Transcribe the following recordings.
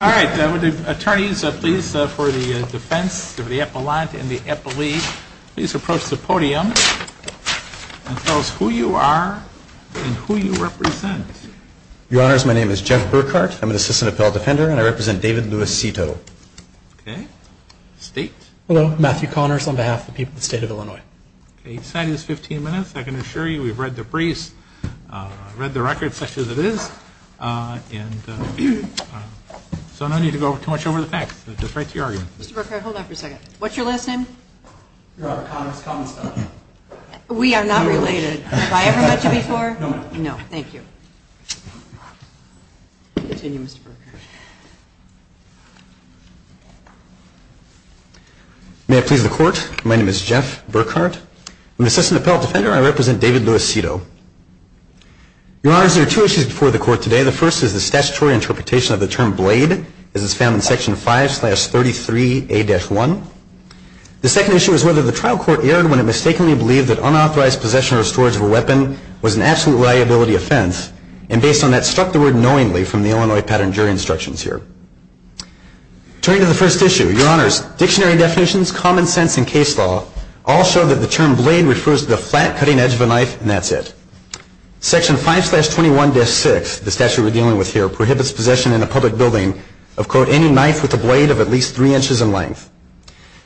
All right. Attorneys, please, for the defense of the appellant and the appellee, please approach the podium and tell us who you are and who you represent. Your Honors, my name is Jeff Burkhart. I'm an assistant appellant defender, and I represent David Lewis Sito. Okay. State? Hello. Matthew Connors on behalf of the people of the state of Illinois. Each side is 15 minutes. I can assure you we've read the briefs, read the record such as it is, and so I don't need to go too much over the facts. Just right to your argument. Mr. Burkhart, hold on for a second. What's your last name? Robert Connors, common stuff. We are not related. Have I ever met you before? No. No. Thank you. Continue, Mr. Burkhart. May it please the court. My name is Jeff Burkhart. I'm an assistant appellant defender, and I represent David Lewis Sito. Your Honors, there are two issues before the court today. The first is the statutory interpretation of the term blade, as it's found in Section 5-33A-1. The second issue is whether the trial court erred when it mistakenly believed that unauthorized possession or storage of a weapon was an absolute liability offense, and based on that, struck the word knowingly from the Illinois pattern jury instructions here. Turning to the first issue, Your Honors, dictionary definitions, common sense, and case law all show that the term blade, as it's found in Section 5-33A-1, is an absolute liability offense. pattern jury instructions here. Turning to the third issue, the statute prohibits the possession of any knife with a blade of at least three inches in length.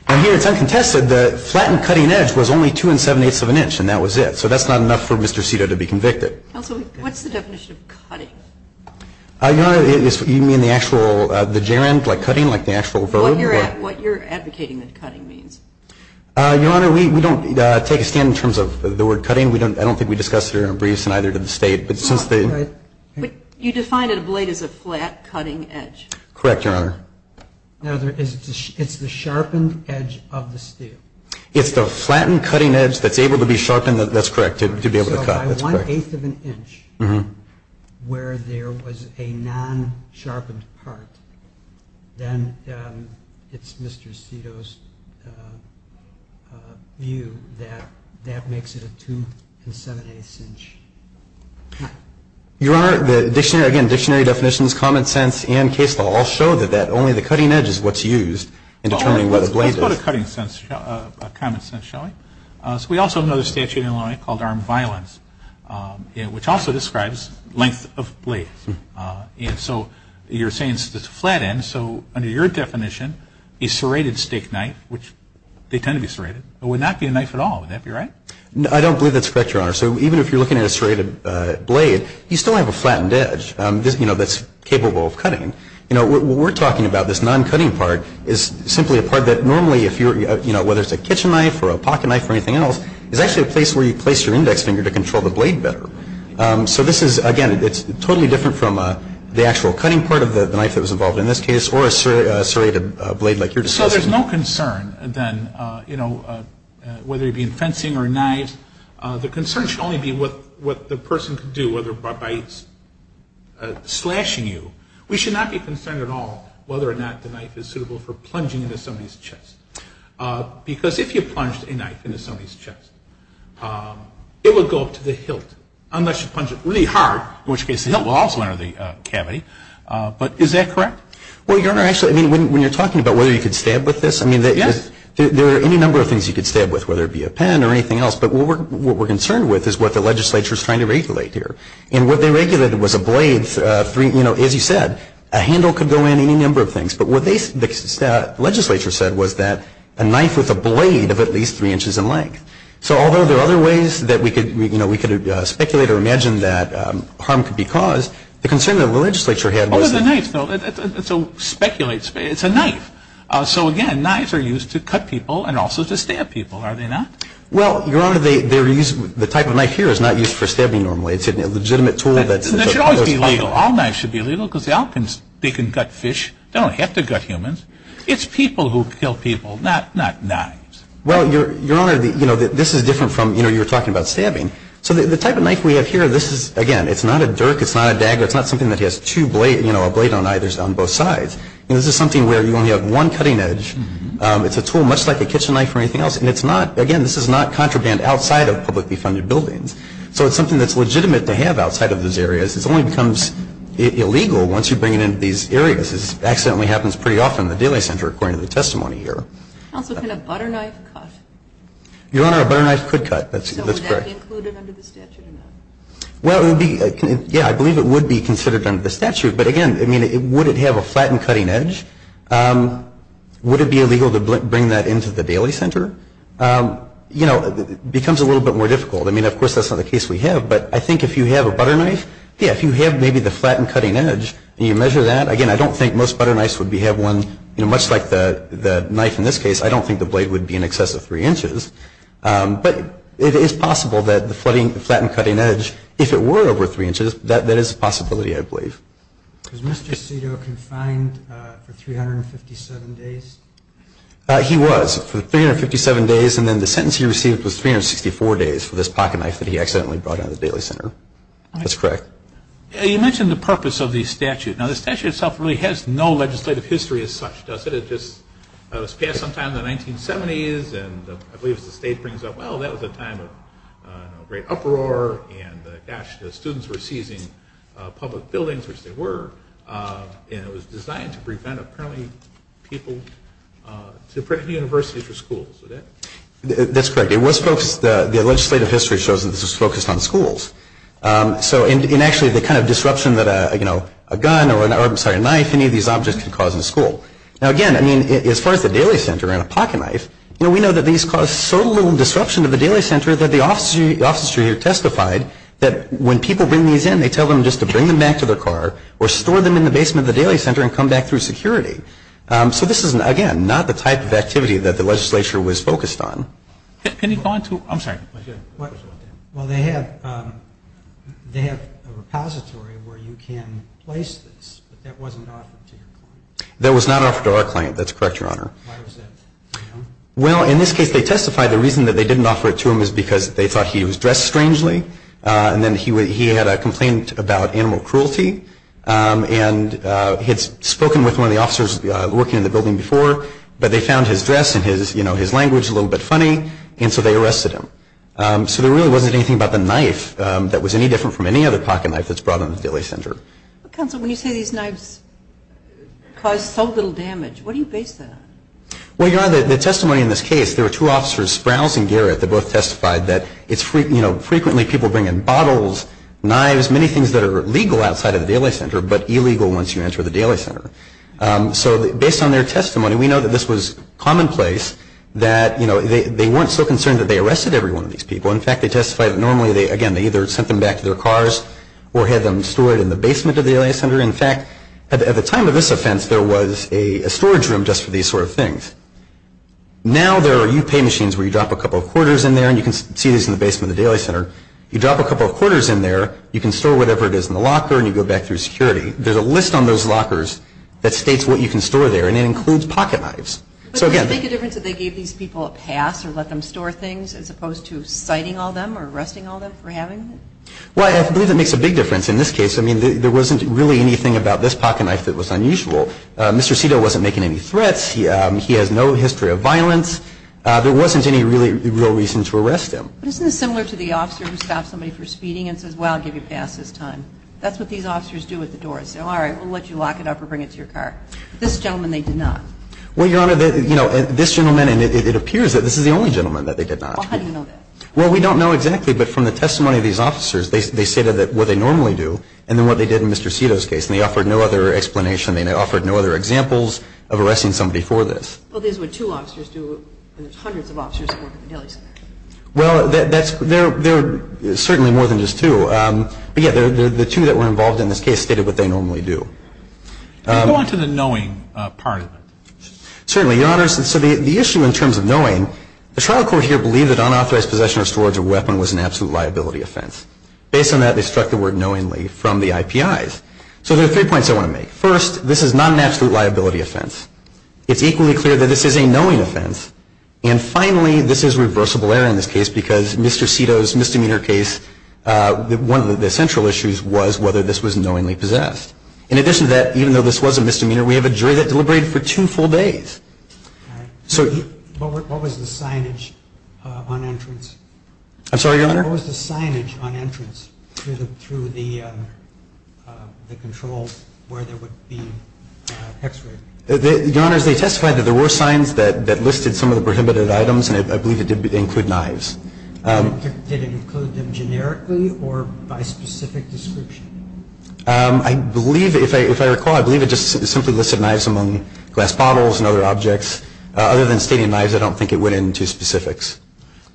And here, it's uncontested that flattened cutting edge was only two and seven-eighths of an inch, and that was it. So that's not enough for Mr. Sito to be convicted. Counsel, what's the definition of cutting? Your Honor, you mean the actual, the gerund, like cutting, like the actual verb? What you're advocating that cutting means. Your Honor, we don't take a stand in terms of the word cutting. I don't think we discussed it in our briefs, and neither did the State. But since the But you define a blade as a flat cutting edge. Correct, Your Honor. Now, it's the sharpened edge of the steel. It's the flattened cutting edge that's able to be sharpened, that's correct, to be able to cut. So by one-eighth of an inch, where there was a non-sharpened part, then it's Mr. Sito's view that that makes it a two and seven-eighths inch cut. Your Honor, the dictionary, again, dictionary definitions, common sense, and case law all show that only the cutting edge is what's used in determining what a blade is. Let's go to cutting sense, common sense, shall we? So we also know the statute in Illinois called armed violence, which also describes length of blades. And so you're saying it's a flat end. So under your definition, a serrated steak knife, which they tend to be serrated, would not be a knife at all. Would that be right? I don't believe that's correct, Your Honor. So even if you're looking at a serrated blade, you still have a flattened edge that's capable of cutting. You know, what we're talking about, this non-cutting part, is simply a part that normally, if you're, you know, whether it's a kitchen knife or a pocket knife or anything else, is actually a place where you place your index finger to control the blade better. So this is, again, it's totally different from the actual cutting part of the knife that was involved in this case or a serrated blade like you're discussing. So there's no concern, then, you know, whether it be in fencing or a knife. The concern should only be what the person could do, whether by slashing you. We should not be concerned at all whether or not the knife is suitable for plunging into somebody's chest. Because if you plunged a knife into somebody's chest, it would go up to the hilt, unless you punch it really hard, in which case the hilt will also enter the cavity. But is that correct? Well, Your Honor, actually, I mean, when you're talking about whether you could stab with this, I mean, there are any number of things you could stab with, whether it be a pen or anything else. But what we're concerned with is what the legislature is trying to regulate here. And what they regulated was a blade, you know, as you said, a handle could go in, any number of things. But what the legislature said was that a knife with a blade of at least three inches in length. So although there are other ways that we could, you know, we could speculate or imagine that harm could be caused, the concern that the legislature had was that... What was the knife, though? So speculate. It's a knife. So, again, knives are used to cut people and also to stab people, are they not? Well, Your Honor, the type of knife here is not used for stabbing normally. It's a legitimate tool that's... It should always be legal. All knives should be legal because the Alpens, they can gut fish. They don't have to gut humans. It's people who kill people, not knives. Well, Your Honor, you know, this is different from, you know, you were talking about stabbing. So the type of knife we have here, this is, again, it's not a dirk, it's not a dagger, it's not something that has two blades, you know, a blade on either, on both sides. This is something where you only have one cutting edge. It's a tool much like a kitchen knife or anything else. And it's not, again, this is not contraband outside of publicly funded buildings. So it's something that's legitimate to have outside of those areas. It only becomes illegal once you bring it into these areas. This accidentally happens pretty often in the Daly Center, according to the testimony here. Counsel, can a butter knife cut? Your Honor, a butter knife could cut. That's correct. So would that be included under the statute or not? Well, it would be, yeah, I believe it would be considered under the statute. But, again, I mean, would it have a flattened cutting edge? Would it be illegal to bring that into the Daly Center? You know, it becomes a little bit more difficult. I mean, of course, that's not the case we have. But I think if you have a butter knife, yeah, if you have maybe the flattened cutting edge and you measure that, again, I don't think most butter knives would have one, you know, much like the knife in this case. I don't think the blade would be in excess of three inches. But it is possible that the flattened cutting edge, if it were over three inches, that is a possibility, I believe. Was Mr. Sedo confined for 357 days? He was for 357 days. And then the sentence he received was 364 days for this pocket knife that he accidentally brought out of the Daly Center. That's correct. You mentioned the purpose of the statute. Now, the statute itself really has no legislative history as such, does it? It just was passed sometime in the 1970s. And I believe as the state brings up, well, that was a time of great uproar. And, gosh, the students were seizing public buildings, which they were. And it was designed to prevent apparently people to bring universities or schools. Is that correct? That's correct. The legislative history shows that this was focused on schools. And, actually, the kind of disruption that a gun or a knife, any of these objects, can cause in a school. Now, again, I mean, as far as the Daly Center and a pocket knife, we know that these cause so little disruption to the Daly Center that the officers here testified that when people bring these in, they tell them just to bring them back to their car or store them in the basement of the Daly Center and come back through security. So this is, again, not the type of activity that the legislature was focused on. Can you go on to, I'm sorry. Well, they have a repository where you can place this. But that wasn't offered to your client. That was not offered to our client. That's correct, Your Honor. Why was that? Well, in this case, they testified the reason that they didn't offer it to him was because they thought he was dressed strangely. And then he had a complaint about animal cruelty. And he had spoken with one of the officers working in the building before, but they found his dress and his language a little bit funny, and so they arrested him. So there really wasn't anything about the knife that was any different from any other pocket knife that's brought in the Daly Center. Counsel, when you say these knives cause so little damage, what do you base that on? Well, Your Honor, the testimony in this case, there were two officers, Sprouse and Garrett, that both testified that frequently people bring in bottles, knives, many things that are legal outside of the Daly Center, but illegal once you enter the Daly Center. So based on their testimony, we know that this was commonplace, that they weren't so concerned that they arrested every one of these people. In fact, they testified that normally, again, they either sent them back to their cars or had them stored in the basement of the Daly Center. In fact, at the time of this offense, there was a storage room just for these sort of things. Now there are UPay machines where you drop a couple of quarters in there, and you can see these in the basement of the Daly Center. You drop a couple of quarters in there, you can store whatever it is in the locker, and you go back through security. There's a list on those lockers that states what you can store there, and it includes pocket knives. But does it make a difference that they gave these people a pass or let them store things as opposed to citing all of them or arresting all of them for having them? Well, I believe it makes a big difference. In this case, I mean, there wasn't really anything about this pocket knife that was unusual. Mr. Cito wasn't making any threats. He has no history of violence. There wasn't any real reason to arrest him. Isn't this similar to the officer who stops somebody for speeding and says, well, I'll give you a pass this time? That's what these officers do at the door. They say, all right, we'll let you lock it up or bring it to your car. This gentleman, they did not. Well, Your Honor, this gentleman, and it appears that this is the only gentleman that they did not. Well, how do you know that? Well, we don't know exactly, but from the testimony of these officers, they say that what they normally do and then what they did in Mr. Cito's case, and they offered no other explanation. They offered no other examples of arresting somebody for this. Well, this is what two officers do and there's hundreds of officers that work at the Daly Center. Well, there are certainly more than just two. But, yeah, the two that were involved in this case stated what they normally do. Can we go on to the knowing part of it? Certainly, Your Honor. So the issue in terms of knowing, the trial court here believed that unauthorized possession or storage of a weapon was an absolute liability offense. Based on that, they struck the word knowingly from the IPIs. So there are three points I want to make. First, this is not an absolute liability offense. It's equally clear that this is a knowing offense. And, finally, this is reversible error in this case because Mr. Cito's misdemeanor case, one of the central issues was whether this was knowingly possessed. In addition to that, even though this was a misdemeanor, we have a jury that deliberated for two full days. All right. What was the signage on entrance? I'm sorry, Your Honor? What was the signage on entrance through the control where there would be hex rig? Your Honor, they testified that there were signs that listed some of the prohibited items, and I believe it did include knives. Did it include them generically or by specific description? I believe, if I recall, I believe it just simply listed knives among glass bottles and other objects. Other than stating knives, I don't think it went into specifics.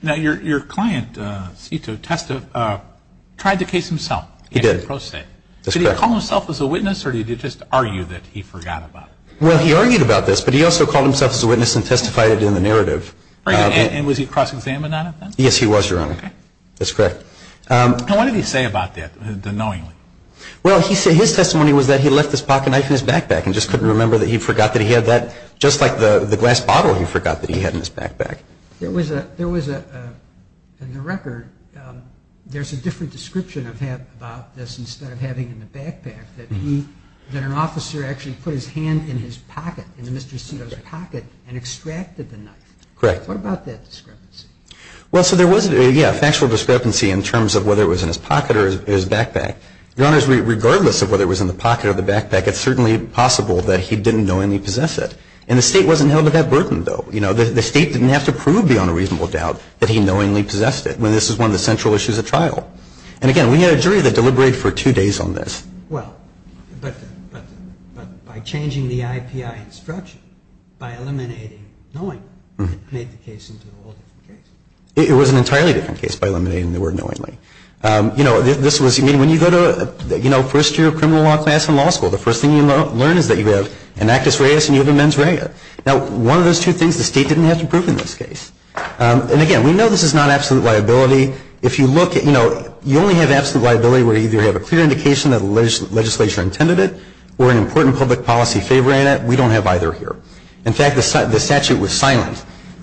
Now, your client, Cito, tried the case himself. He did. Did he call himself a witness or did he just argue that he forgot about it? Well, he argued about this, but he also called himself a witness and testified it in the narrative. And was he cross-examined on it then? Yes, he was, Your Honor. That's correct. Now, what did he say about that, the knowingly? Well, his testimony was that he left his pocket knife in his backpack and just couldn't remember that he forgot that he had that, just like the glass bottle he forgot that he had in his backpack. There was a, in the record, there's a different description about this that an officer actually put his hand in his pocket, in Mr. Cito's pocket, and extracted the knife. Correct. What about that discrepancy? Well, so there was a factual discrepancy in terms of whether it was in his pocket or his backpack. Your Honor, regardless of whether it was in the pocket or the backpack, it's certainly possible that he didn't knowingly possess it. And the State wasn't held to that burden, though. The State didn't have to prove beyond a reasonable doubt that he knowingly possessed it. This is one of the central issues at trial. And, again, we had a jury that deliberated for two days on this. Well, but by changing the IPI instruction, by eliminating knowingly, made the case into a whole different case. It was an entirely different case by eliminating the word knowingly. You know, this was, I mean, when you go to, you know, first year of criminal law class in law school, the first thing you learn is that you have an actus reus and you have a mens rea. Now, one of those two things the State didn't have to prove in this case. And, again, we know this is not absolute liability. If you look at, you know, you only have absolute liability where you either have a clear indication that the legislature intended it or an important public policy favoring it. We don't have either here. In fact, the statute was silent.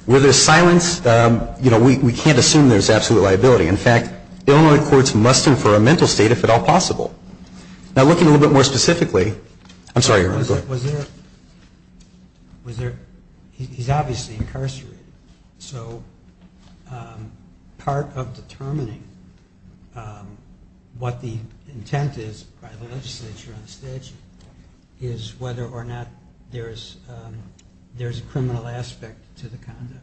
Where there's silence, you know, we can't assume there's absolute liability. In fact, Illinois courts must infer a mental state if at all possible. Now, looking a little bit more specifically, I'm sorry, go ahead. Was there, was there, he's obviously incarcerated. So part of determining what the intent is by the legislature on the statute is whether or not there's a criminal aspect to the conduct.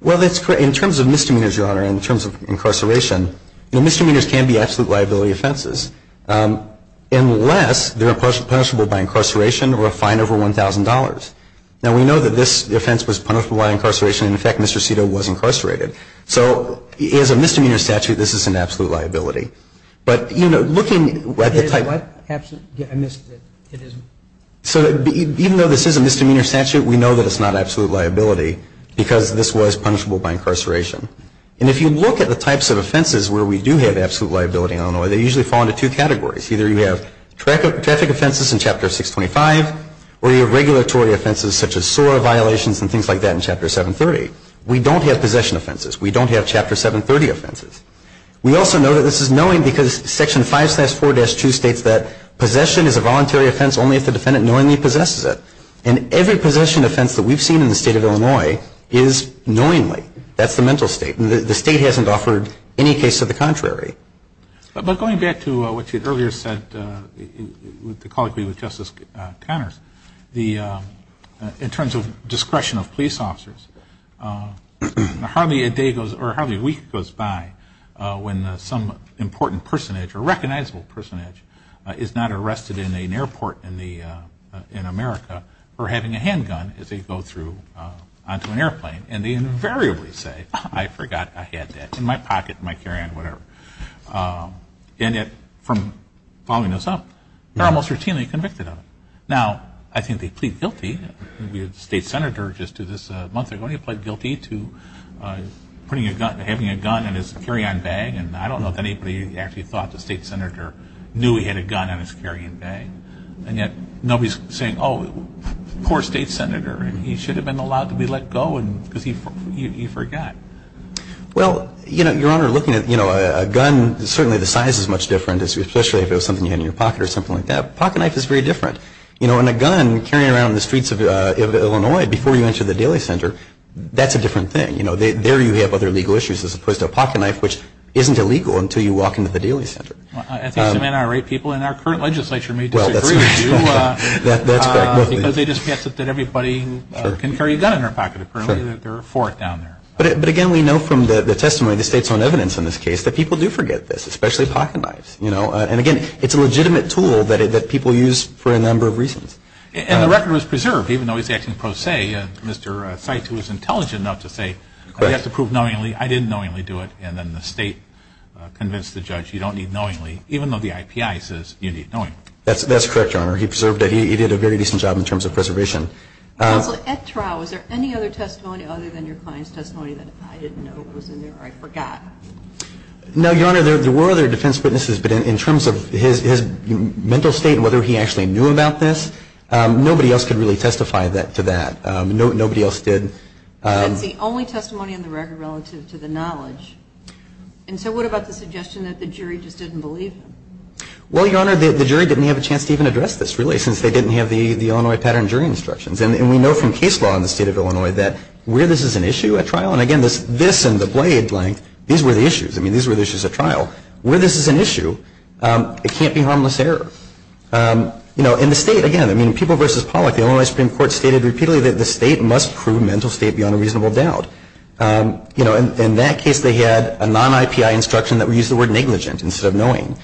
Well, that's correct. In terms of misdemeanors, Your Honor, in terms of incarceration, you know, misdemeanors can be absolute liability offenses unless they're punishable by incarceration or a fine over $1,000. Now, we know that this offense was punishable by incarceration. In fact, Mr. Cito was incarcerated. So as a misdemeanor statute, this is an absolute liability. But, you know, looking at the type. I missed it. So even though this is a misdemeanor statute, we know that it's not absolute liability because this was punishable by incarceration. And if you look at the types of offenses where we do have absolute liability in Illinois, they usually fall into two categories. Either you have traffic offenses in Chapter 625 or you have regulatory offenses such as SOAR violations and things like that in Chapter 730. We don't have possession offenses. We don't have Chapter 730 offenses. We also know that this is knowing because Section 5-4-2 states that possession is a voluntary offense only if the defendant knowingly possesses it. And every possession offense that we've seen in the State of Illinois is knowingly. That's the mental state. The State hasn't offered any case to the contrary. But going back to what you earlier said with the colloquy with Justice Connors, in terms of discretion of police officers, hardly a day goes or hardly a week goes by when some important personage or recognizable personage is not arrested in an airport in America for having a handgun as they go through onto an airplane. And they invariably say, I forgot I had that in my pocket, in my carry-on, whatever. And yet from following this up, they're almost routinely convicted of it. Now, I think they plead guilty. We had a state senator just this month ago, and he pled guilty to having a gun in his carry-on bag. And I don't know if anybody actually thought the state senator knew he had a gun in his carry-on bag. And yet nobody's saying, oh, poor state senator. He should have been allowed to be let go because he forgot. Well, Your Honor, looking at a gun, certainly the size is much different, especially if it was something you had in your pocket or something like that. A pocketknife is very different. In a gun, carrying it around the streets of Illinois before you enter the Daily Center, that's a different thing. There you have other legal issues as opposed to a pocketknife, which isn't illegal until you walk into the Daily Center. I think some NRA people in our current legislature may disagree with you. That's correct. Because they just guess that everybody can carry a gun in their pocket. Apparently there are four down there. But, again, we know from the testimony, the state's own evidence in this case, that people do forget this, especially pocketknifes. And, again, it's a legitimate tool that people use for a number of reasons. And the record was preserved, even though he's acting pro se. Mr. Seitz was intelligent enough to say, I have to prove knowingly. I didn't knowingly do it. And then the state convinced the judge, you don't need knowingly, even though the IPI says you need knowingly. That's correct, Your Honor. He preserved it. He did a very decent job in terms of preservation. Counsel, at trial, was there any other testimony other than your client's testimony that I didn't know was in there or I forgot? No, Your Honor. There were other defense witnesses. But in terms of his mental state and whether he actually knew about this, nobody else could really testify to that. Nobody else did. That's the only testimony in the record relative to the knowledge. And so what about the suggestion that the jury just didn't believe him? Well, Your Honor, the jury didn't have a chance to even address this, really, since they didn't have the Illinois pattern jury instructions. And we know from case law in the State of Illinois that where this is an issue at trial, and again, this and the blade length, these were the issues. I mean, these were the issues at trial. Where this is an issue, it can't be harmless error. You know, in the State, again, I mean, in People v. Pollock, the Illinois Supreme Court stated repeatedly that the State must prove mental state beyond a reasonable doubt. You know, in that case, they had a non-IPI instruction that we used the word negligent instead of knowing.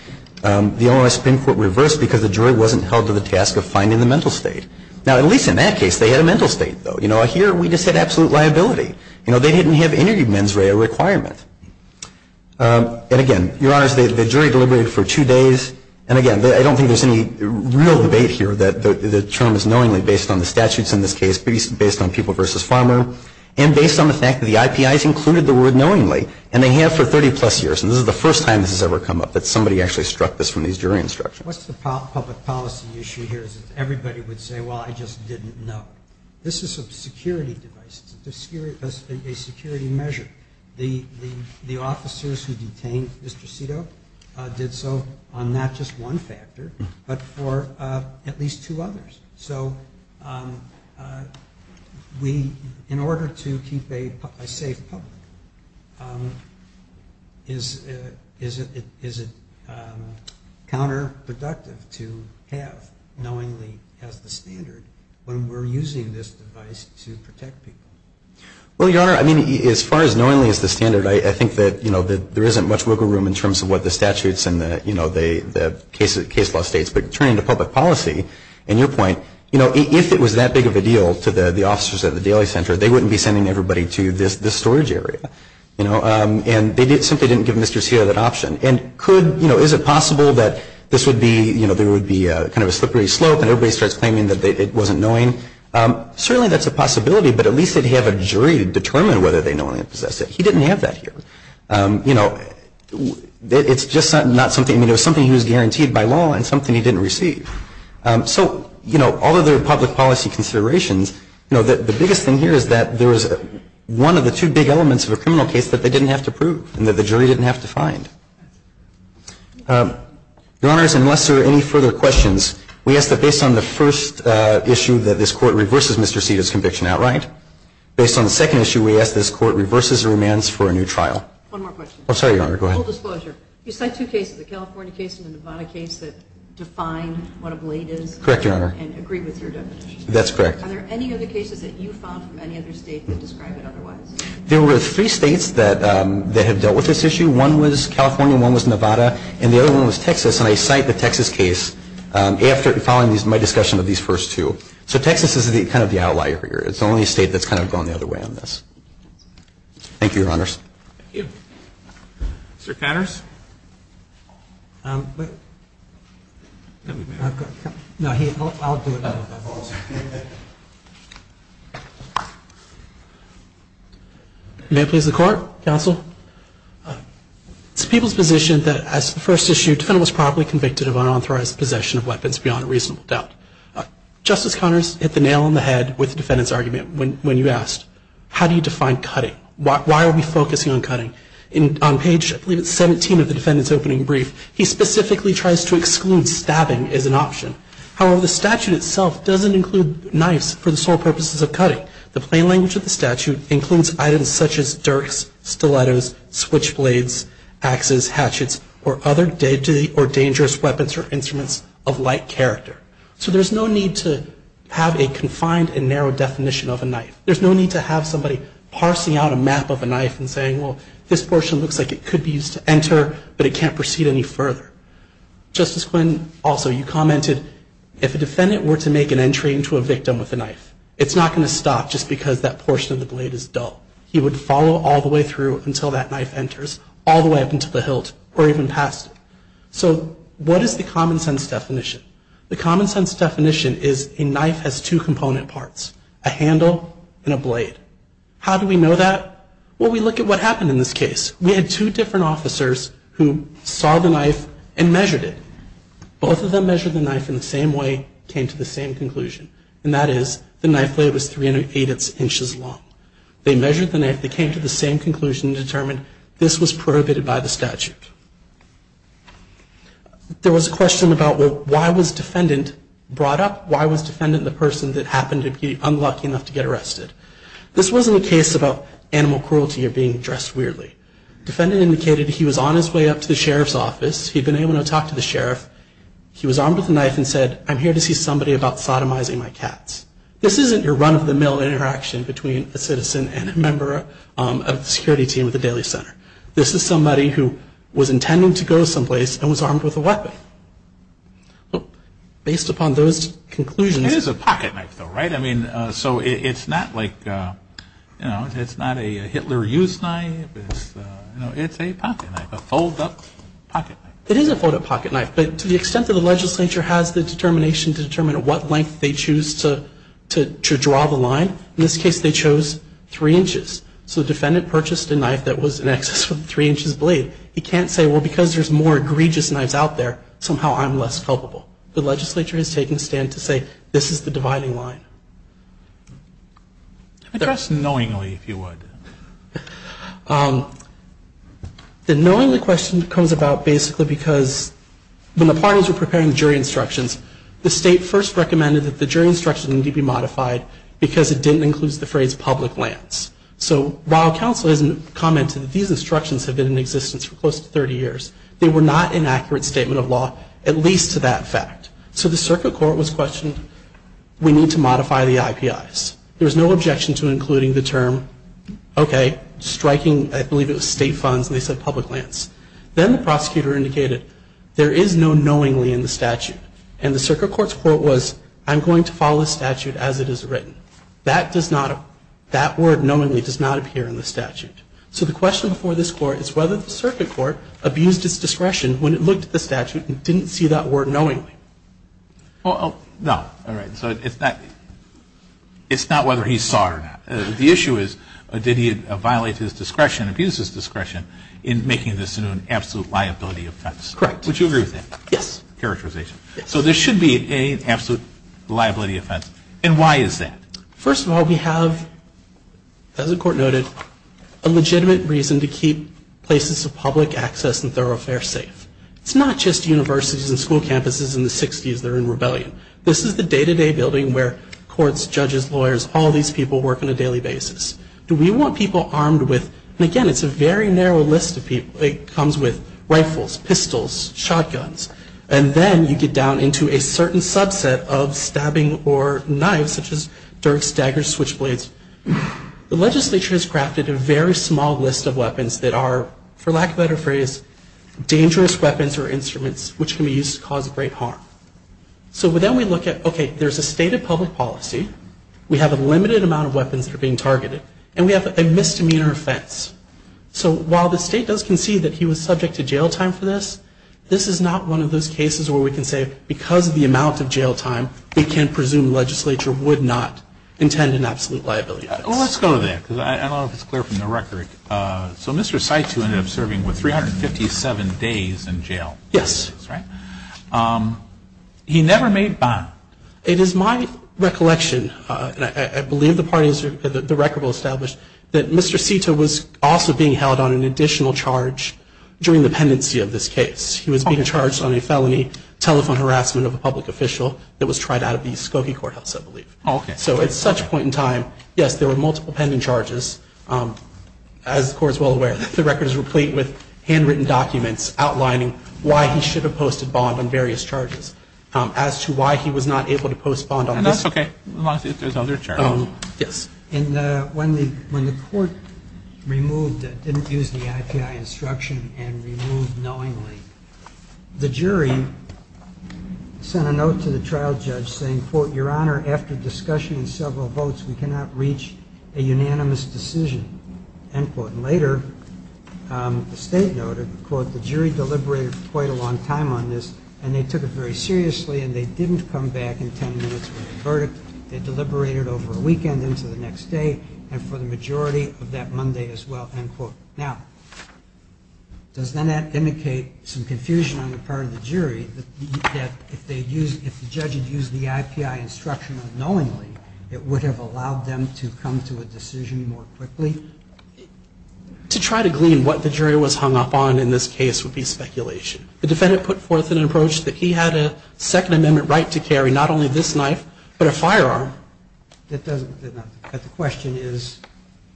The Illinois Supreme Court reversed because the jury wasn't held to the task of finding the mental state. Now, at least in that case, they had a mental state, though. You know, here we just had absolute liability. You know, they didn't have any mens rea requirement. And again, Your Honors, the jury deliberated for two days. And again, I don't think there's any real debate here that the term is knowingly based on the statutes in this case, based on People v. Farmer, and based on the fact that the IPIs included the word knowingly, and they have for 30-plus years. And this is the first time this has ever come up, that somebody actually struck this from these jury instructions. What's the public policy issue here is that everybody would say, well, I just didn't know. This is a security device. It's a security measure. The officers who detained Mr. Cito did so on not just one factor, but for at least two others. So in order to keep a safe public, is it counterproductive to have knowingly as the standard when we're using this device to protect people? Well, Your Honor, I mean, as far as knowingly as the standard, I think that there isn't much wiggle room in terms of what the statutes and the case law states. But turning to public policy, and your point, you know, if it was that big of a deal to the officers at the Daly Center, they wouldn't be sending everybody to this storage area. You know, and they simply didn't give Mr. Cito that option. And could, you know, is it possible that this would be, you know, there would be kind of a slippery slope and everybody starts claiming that it wasn't knowing? Certainly that's a possibility, but at least they'd have a jury to determine whether they knowingly possessed it. He didn't have that here. You know, it's just not something, I mean, it was something he was guaranteed by law and something he didn't receive. So, you know, all of their public policy considerations, you know, the biggest thing here is that there was one of the two big elements of a criminal case that they didn't have to prove and that the jury didn't have to find. Your Honors, unless there are any further questions, we ask that based on the first issue that this Court reverses Mr. Cito's conviction outright, based on the second issue we ask that this Court reverses the remands for a new trial. One more question. I'm sorry, Your Honor, go ahead. Full disclosure. You cite two cases, the California case and the Nevada case that define what a blade is. Correct, Your Honor. And agree with your definition. That's correct. Are there any other cases that you found from any other state that describe it otherwise? There were three states that have dealt with this issue. One was California, one was Nevada, and the other one was Texas. And I cite the Texas case following my discussion of these first two. So Texas is kind of the outlier here. It's the only state that's kind of gone the other way on this. Thank you, Your Honors. Thank you. Mr. Connors? May it please the Court? Counsel? It's the people's position that as to the first issue, defendant was properly convicted of unauthorized possession of weapons beyond a reasonable doubt. Justice Connors hit the nail on the head with the defendant's argument when you asked, how do you define cutting? Why are we focusing on cutting? On page, I believe it's 17 of the defendant's opening brief, he specifically tries to exclude stabbing as an option. However, the statute itself doesn't include knives for the sole purposes of cutting. The plain language of the statute includes items such as dirks, stilettos, switchblades, axes, hatchets, or other deadly or dangerous weapons or instruments of like character. So there's no need to have a confined and narrow definition of a knife. There's no need to have somebody parsing out a map of a knife and saying, well, this portion looks like it could be used to enter, but it can't proceed any further. Justice Quinn, also you commented, if a defendant were to make an entry into a victim with a knife, it's not going to stop just because that portion of the blade is dull. He would follow all the way through until that knife enters, all the way up until the hilt or even past it. So what is the common sense definition? The common sense definition is a knife has two component parts, a handle and a blade. How do we know that? Well, we look at what happened in this case. We had two different officers who saw the knife and measured it. Both of them measured the knife in the same way, came to the same conclusion, and that is the knife blade was 380 inches long. They measured the knife. They came to the same conclusion and determined this was prohibited by the statute. There was a question about, well, why was defendant brought up? Why was defendant the person that happened to be unlucky enough to get arrested? This wasn't a case about animal cruelty or being dressed weirdly. Defendant indicated he was on his way up to the sheriff's office. He'd been able to talk to the sheriff. He was armed with a knife and said, I'm here to see somebody about sodomizing my cats. This isn't your run-of-the-mill interaction between a citizen and a member of the security team at the Daly Center. This is somebody who was intending to go someplace and was armed with a weapon. Based upon those conclusions. It is a pocket knife, though, right? I mean, so it's not like, you know, it's not a Hitler used knife. It's a pocket knife, a fold-up pocket knife. It is a fold-up pocket knife, but to the extent that the legislature has the determination to determine what length they choose to draw the line, in this case they chose three inches. So the defendant purchased a knife that was in excess of a three-inch blade. He can't say, well, because there's more egregious knives out there, somehow I'm less culpable. The legislature has taken a stand to say, this is the dividing line. Address knowingly, if you would. The knowingly question comes about basically because when the parties were preparing the jury instructions, the state first recommended that the jury instructions need to be modified because it didn't include the phrase public lands. So while counsel has commented that these instructions have been in existence for close to 30 years, they were not an accurate statement of law, at least to that fact. So the circuit court was questioned. We need to modify the IPIs. There was no objection to including the term, okay, striking, I believe it was state funds, and they said public lands. Then the prosecutor indicated, there is no knowingly in the statute. And the circuit court's quote was, I'm going to follow the statute as it is written. That word knowingly does not appear in the statute. So the question before this Court is whether the circuit court abused its discretion when it looked at the statute and didn't see that word knowingly. Well, no. All right. So it's not whether he saw it or not. The issue is, did he violate his discretion, abuse his discretion, in making this an absolute liability offense? Correct. Would you agree with that? Yes. Characterization. So this should be an absolute liability offense. And why is that? First of all, we have, as the Court noted, a legitimate reason to keep places of public access and thoroughfare safe. It's not just universities and school campuses in the 60s that are in rebellion. This is the day-to-day building where courts, judges, lawyers, all these people work on a daily basis. Do we want people armed with, and again, it's a very narrow list of people. It comes with rifles, pistols, shotguns. And then you get down into a certain subset of stabbing or knives, such as dirks, daggers, switchblades. The legislature has crafted a very small list of weapons that are, for lack of a better phrase, dangerous weapons or instruments, which can be used to cause great harm. So then we look at, okay, there's a stated public policy. We have a limited amount of weapons that are being targeted. And we have a misdemeanor offense. So while the state does concede that he was subject to jail time for this, this is not one of those cases where we can say, because of the amount of jail time, we can presume the legislature would not intend an absolute liability offense. Well, let's go to that, because I don't know if it's clear from the record. So Mr. Saitu ended up serving, what, 357 days in jail? Yes. That's right. He never made bond. It is my recollection, and I believe the record will establish, that Mr. Saitu was also being held on an additional charge during the pendency of this case. He was being charged on a felony telephone harassment of a public official that was tried out of the Skokie Courthouse, I believe. So at such point in time, yes, there were multiple pending charges. As the Court is well aware, the record is replete with handwritten documents outlining why he should have posted bond on various charges, as to why he was not able to post bond on this. And that's okay, as long as there's other charges. Yes. And when the Court removed, didn't use the IPI instruction and removed knowingly, the jury sent a note to the trial judge saying, quote, Your Honor, after discussion and several votes, we cannot reach a unanimous decision, end quote. And later, the State noted, quote, The jury deliberated for quite a long time on this, and they took it very seriously, and they didn't come back in ten minutes with a verdict. They deliberated over a weekend into the next day, and for the majority of that Monday as well, end quote. Now, does then that indicate some confusion on the part of the jury, that if the judge had used the IPI instruction unknowingly, it would have allowed them to come to a decision more quickly? To try to glean what the jury was hung up on in this case would be speculation. The defendant put forth an approach that he had a Second Amendment right to carry not only this knife, but a firearm. The question is,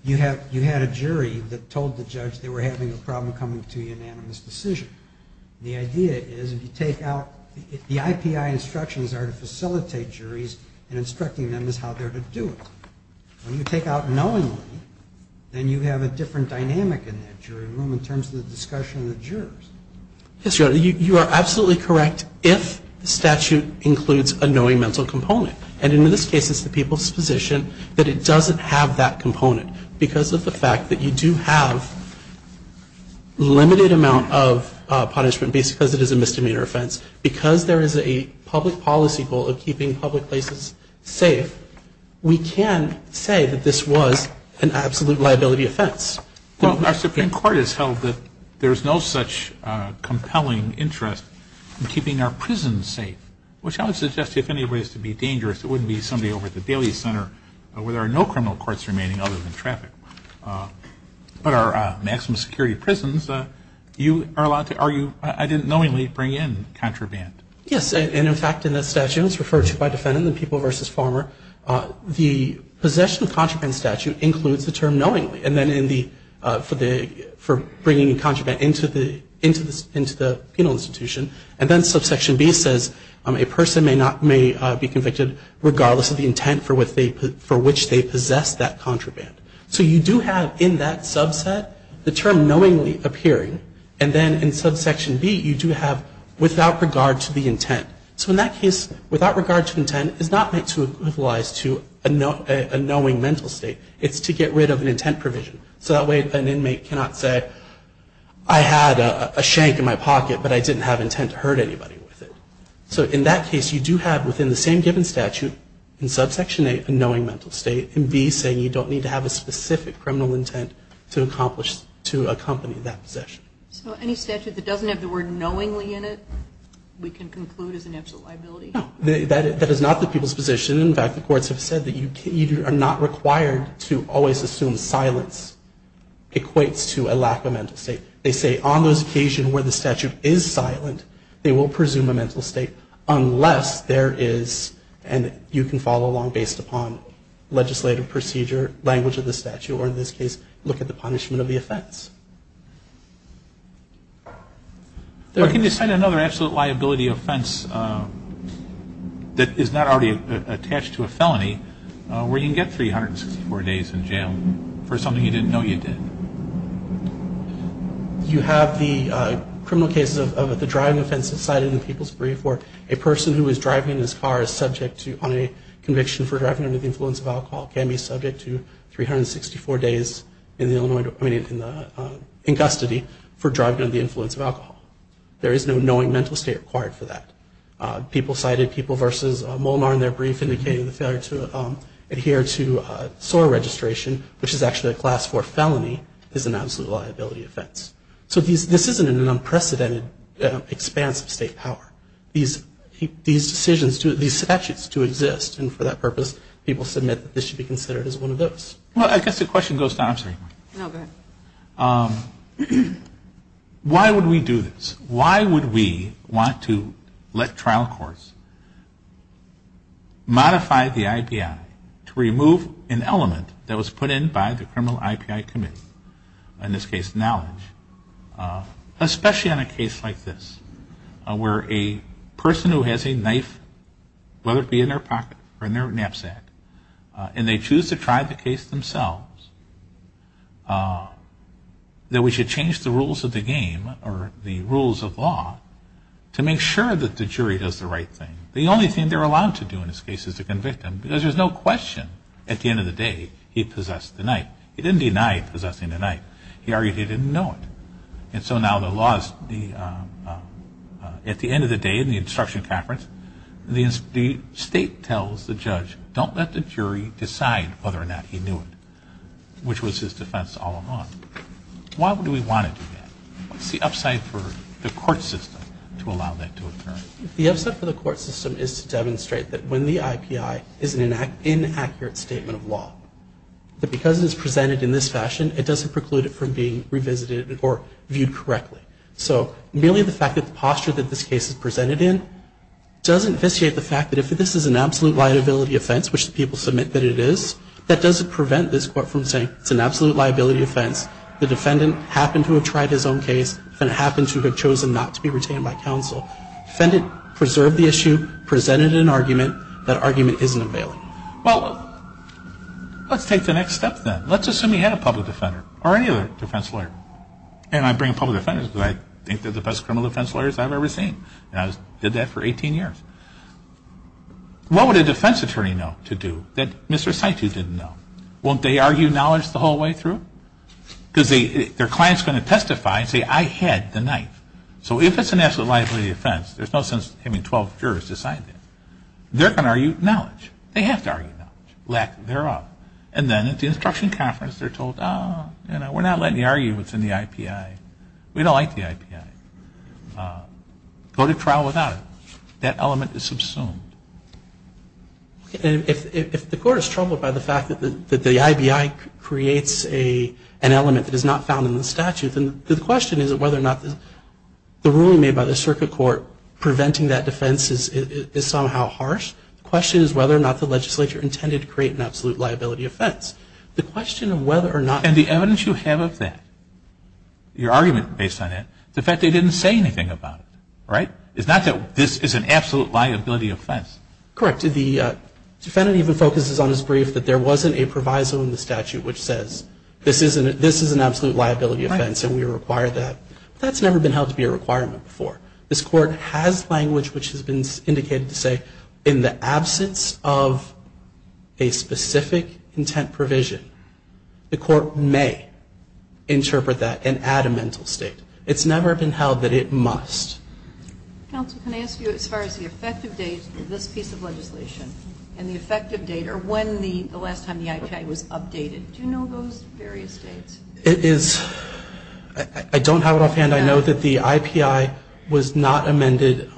you had a jury that told the judge they were having a problem coming to a unanimous decision. The idea is, if you take out the IPI instructions are to facilitate juries, and instructing them is how they're to do it. When you take out knowingly, then you have a different dynamic in that jury room in terms of the discussion of the jurors. Yes, Your Honor. You are absolutely correct if the statute includes a knowing mental component. And in this case, it's the people's position that it doesn't have that component. Because of the fact that you do have a limited amount of punishment, because it is a misdemeanor offense, because there is a public policy goal of keeping public places safe, we can say that this was an absolute liability offense. Well, our Supreme Court has held that there is no such compelling interest in keeping our prisons safe, which I would suggest if anybody is to be dangerous, it wouldn't be somebody over at the Daly Center where there are no criminal courts remaining other than traffic. But our maximum security prisons, you are allowed to argue, I didn't knowingly bring in contraband. Yes. And, in fact, in the statute, it's referred to by defendant in the people versus farmer, the possession of contraband statute includes the term knowingly, and then for bringing contraband into the penal institution. And then subsection B says a person may be convicted regardless of the intent for which they possess that contraband. So you do have in that subset the term knowingly appearing. And then in subsection B, you do have without regard to the intent. So in that case, without regard to intent is not meant to equalize to a knowing mental state. It's to get rid of an intent provision. So that way an inmate cannot say, I had a shank in my pocket, but I didn't have intent to hurt anybody with it. So in that case, you do have within the same given statute, in subsection A, a knowing mental state, and B saying you don't need to have a specific criminal intent to accomplish, to accompany that possession. So any statute that doesn't have the word knowingly in it, we can conclude is an absolute liability? No. That is not the people's position. In fact, the courts have said that you are not required to always assume silence equates to a lack of mental state. They say on those occasions where the statute is silent, they will presume a mental state unless there is, and you can follow along based upon legislative procedure, language of the statute, or in this case, look at the punishment of the offense. Can you cite another absolute liability offense that is not already attached to a felony, where you can get 364 days in jail for something you didn't know you did? You have the criminal cases of the driving offenses cited in the people's brief, where a person who is driving in his car on a conviction for driving under the influence of alcohol can be subject to 364 days in custody for driving under the influence of alcohol. There is no knowing mental state required for that. People cited people versus Molnar in their brief indicating the failure to adhere to SOAR registration, which is actually a class four felony, is an absolute liability offense. So this isn't an unprecedented expanse of state power. These decisions, these statutes do exist, and for that purpose, people submit that this should be considered as one of those. Well, I guess the question goes to, I'm sorry. No, go ahead. Why would we do this? Why would we want to let trial courts modify the IPI to remove an element that was put in by the criminal IPI committee, in this case, knowledge, especially in a case like this, where a person who has a knife, whether it be in their pocket or in their knapsack, and they choose to try the case themselves, that we should change the rules of the game or the rules of law to make sure that the jury does the right thing. The only thing they're allowed to do in this case is to convict him, because there's no question at the end of the day he possessed the knife. He didn't deny possessing the knife. He argued he didn't know it. And so now the laws, at the end of the day, in the instruction conference, the state tells the judge, don't let the jury decide whether or not he knew it, which was his defense all along. Why would we want to do that? What's the upside for the court system to allow that to occur? The upside for the court system is to demonstrate that when the IPI is an inaccurate statement of law, that because it is presented in this fashion, it doesn't preclude it from being revisited or viewed correctly. So merely the fact that the posture that this case is presented in doesn't vitiate the fact that if this is an absolute liability offense, which the people submit that it is, that doesn't prevent this court from saying it's an absolute liability offense, the defendant happened to have tried his own case, the defendant happened to have chosen not to be retained by counsel. The defendant preserved the issue, presented an argument. That argument isn't available. Well, let's take the next step then. Let's assume he had a public defender or any other defense lawyer. And I bring up public defenders because I think they're the best criminal defense lawyers I've ever seen. And I did that for 18 years. What would a defense attorney know to do that Mr. Saitu didn't know? Won't they argue knowledge the whole way through? Because their client is going to testify and say, I had the knife. So if it's an absolute liability offense, there's no sense in having 12 jurors decide that. They're going to argue knowledge. They have to argue knowledge, lack thereof. And then at the instruction conference, they're told, ah, you know, we're not letting you argue what's in the IPI. We don't like the IPI. Go to trial without it. That element is subsumed. And if the court is troubled by the fact that the IBI creates an element that is not found in the statute, then the question is whether or not the ruling made by the circuit court preventing that defense is somehow harsh. The question is whether or not the legislature intended to create an absolute liability offense. The question of whether or not. And the evidence you have of that, your argument based on that, is the fact they didn't say anything about it. Right? It's not that this is an absolute liability offense. Correct. The defendant even focuses on his brief that there wasn't a proviso in the statute which says, this is an absolute liability offense and we require that. That's never been held to be a requirement before. This court has language which has been indicated to say in the absence of a specific intent provision, the court may interpret that and add a mental state. It's never been held that it must. Counsel, can I ask you as far as the effective date of this piece of legislation and the effective date or when the last time the IPI was updated, do you know those various dates? I don't have it offhand. I know that the IPI was not amended.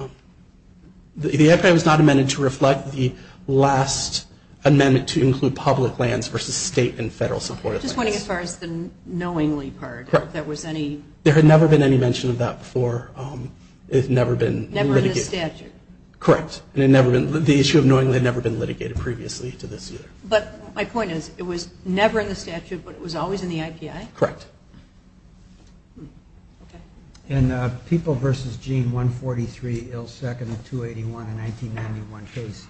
The IPI was not amended to reflect the last amendment to include public lands versus state and federal supported lands. I'm just wondering as far as the knowingly part. There had never been any mention of that before. It had never been litigated. Never in the statute. Correct. The issue of knowingly had never been litigated previously to this either. But my point is it was never in the statute, but it was always in the IPI? Correct. In the People v. Gene 143 Ill Second 281 in 1991 case,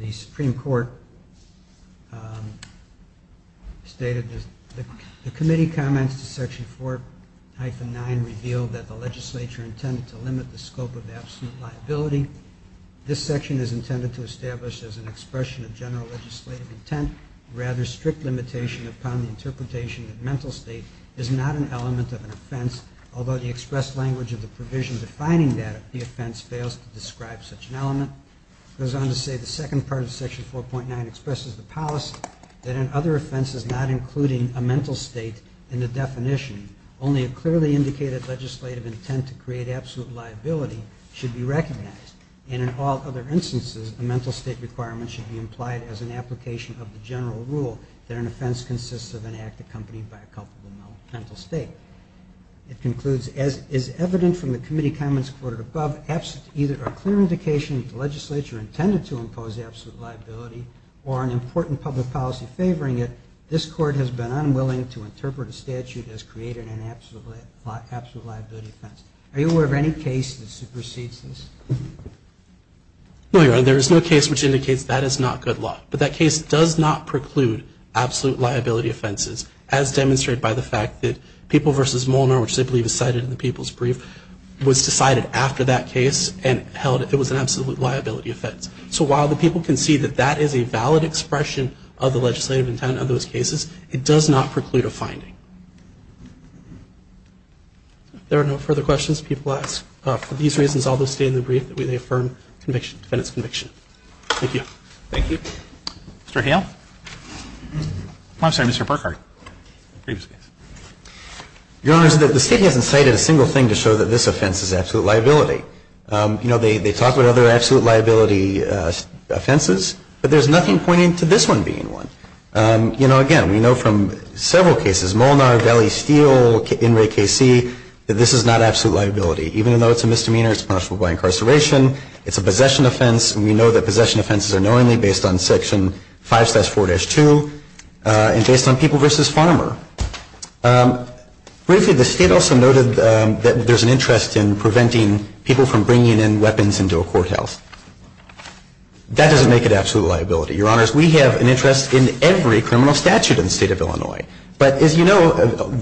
the Supreme Court stated that the committee comments to Section 4-9 revealed that the legislature intended to limit the scope of absolute liability. This section is intended to establish as an expression of general legislative intent rather strict limitation upon the interpretation that mental state is not an element of an offense, although the expressed language of the provision defining that the offense fails to describe such an element. It goes on to say the second part of Section 4.9 expresses the policy that an other offense is not including a mental state in the definition. Only a clearly indicated legislative intent to create absolute liability should be recognized. And in all other instances, a mental state requirement should be implied as an application of the general rule that an offense consists of an act accompanied by a culpable mental state. It concludes, as is evident from the committee comments quoted above, either a clear indication that the legislature intended to impose absolute liability or an important public policy favoring it, this court has been unwilling to interpret a statute as creating an absolute liability offense. Are you aware of any case that supersedes this? No, Your Honor. There is no case which indicates that is not good law. But that case does not preclude absolute liability offenses, as demonstrated by the fact that People v. Molnar, which they believe is cited in the People's Brief, was decided after that case and held it was an absolute liability offense. So while the People can see that that is a valid expression of the legislative intent of those cases, it does not preclude a finding. If there are no further questions, People ask for these reasons all those stated in the Brief that we affirm defendant's conviction. Thank you. Thank you. Mr. Hale. I'm sorry, Mr. Burkhart. Your Honor, the State hasn't cited a single thing to show that this offense is absolute liability. You know, they talk about other absolute liability offenses, but there's nothing pointing to this one being one. You know, again, we know from several cases, Molnar, Valley Steel, In Re KC, that this is not absolute liability. Even though it's a misdemeanor, it's punishable by incarceration. It's a possession offense, and we know that possession offenses are knowingly based on Section 5-4-2 and based on People v. Farmer. Briefly, the State also noted that there's an interest in preventing people from bringing in weapons into a courthouse. That doesn't make it absolute liability. Your Honors, we have an interest in every criminal statute in the State of Illinois. But as you know,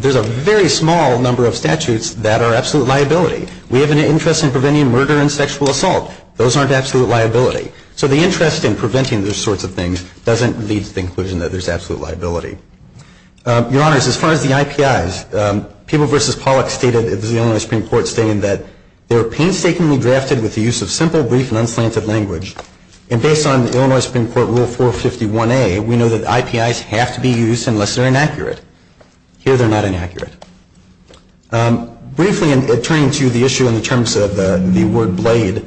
there's a very small number of statutes that are absolute liability. We have an interest in preventing murder and sexual assault. Those aren't absolute liability. So the interest in preventing those sorts of things doesn't lead to the conclusion that there's absolute liability. Your Honors, as far as the IPIs, People v. Pollock stated, this is the Illinois Supreme Court stating, that they're painstakingly drafted with the use of simple, brief, and unslanted language. And based on the Illinois Supreme Court Rule 451A, we know that IPIs have to be used unless they're inaccurate. Here, they're not inaccurate. Briefly, turning to the issue in terms of the word blade,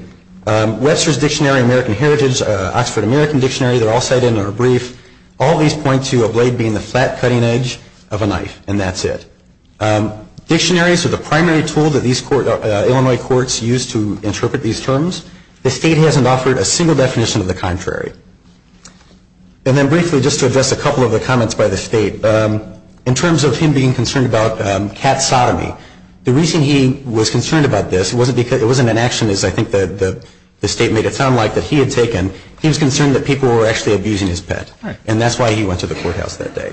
Webster's Dictionary of American Heritage, Oxford American Dictionary, they're all cited in our brief. All these point to a blade being the flat cutting edge of a knife. And that's it. Dictionaries are the primary tool that Illinois courts use to interpret these terms. The State hasn't offered a single definition of the contrary. And then briefly, just to address a couple of the comments by the State, in terms of him being concerned about cat sodomy, the reason he was concerned about this, it wasn't an action, as I think the State made it sound like, that he had taken. He was concerned that people were actually abusing his pet. And that's why he went to the courthouse that day.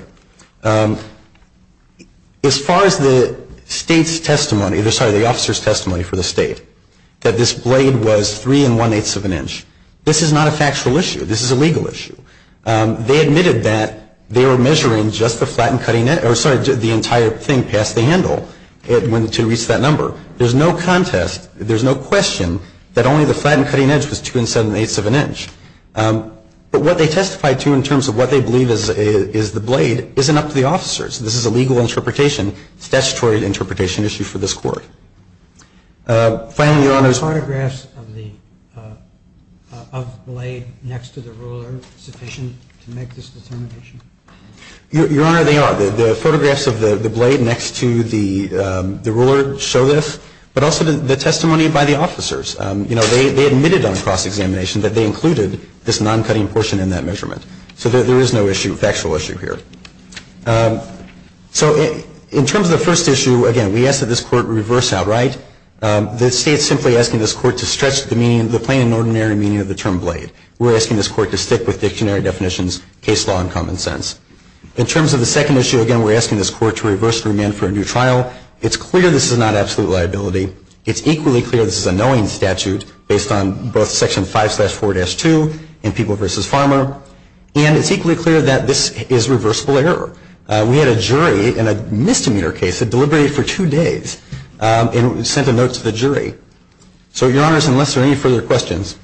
As far as the State's testimony, sorry, the officer's testimony for the State, that this blade was three and one-eighths of an inch, this is not a factual issue. This is a legal issue. They admitted that they were measuring just the flat and cutting edge, or sorry, the entire thing past the handle to reach that number. There's no contest, there's no question that only the flat and cutting edge was two and seven-eighths of an inch. But what they testified to in terms of what they believe is the blade isn't up to the officers. This is a legal interpretation, statutory interpretation issue for this Court. Finally, Your Honor. Are the photographs of the blade next to the ruler sufficient to make this determination? Your Honor, they are. The photographs of the blade next to the ruler show this. But also the testimony by the officers. You know, they admitted on cross-examination that they included this non-cutting portion in that measurement. So there is no issue, factual issue here. So in terms of the first issue, again, we ask that this Court reverse outright. The State's simply asking this Court to stretch the plain and ordinary meaning of the term blade. We're asking this Court to stick with dictionary definitions, case law, and common sense. In terms of the second issue, again, we're asking this Court to reverse the remand for a new trial. It's clear this is not absolute liability. It's equally clear this is a knowing statute based on both Section 5-4-2 and People v. Farmer. And it's equally clear that this is reversible error. We had a jury in a misdemeanor case that deliberated for two days and sent a note to the jury. So, Your Honors, unless there are any further questions.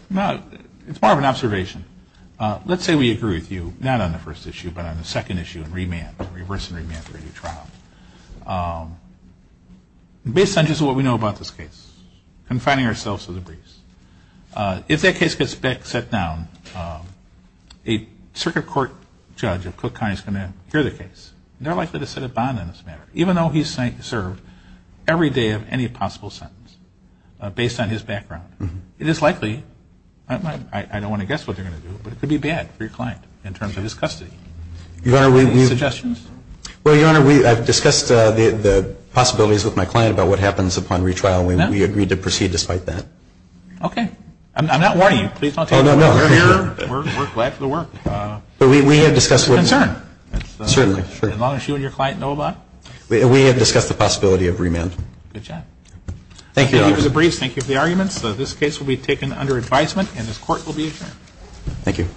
It's part of an observation. Let's say we agree with you, not on the first issue, but on the second issue, remand, reverse and remand for a new trial. Based on just what we know about this case, confining ourselves to the briefs. If that case gets set down, a circuit court judge of Cook County is going to hear the case. They're likely to set a bond on this matter, even though he's served every day of any possible sentence, based on his background. It is likely, I don't want to guess what they're going to do, but it could be bad for your client in terms of his custody. Any suggestions? Well, Your Honor, I've discussed the possibilities with my client about what happens upon retrial. We agreed to proceed despite that. Okay. I'm not warning you. Oh, no, no. We're here. We're glad for the work. But we have discussed. It's a concern. Certainly. As long as you and your client know about it. We have discussed the possibility of remand. Good job. Thank you, Your Honor. Thank you for the briefs. Thank you for the arguments. This case will be taken under advisement and this court will be adjourned. Thank you.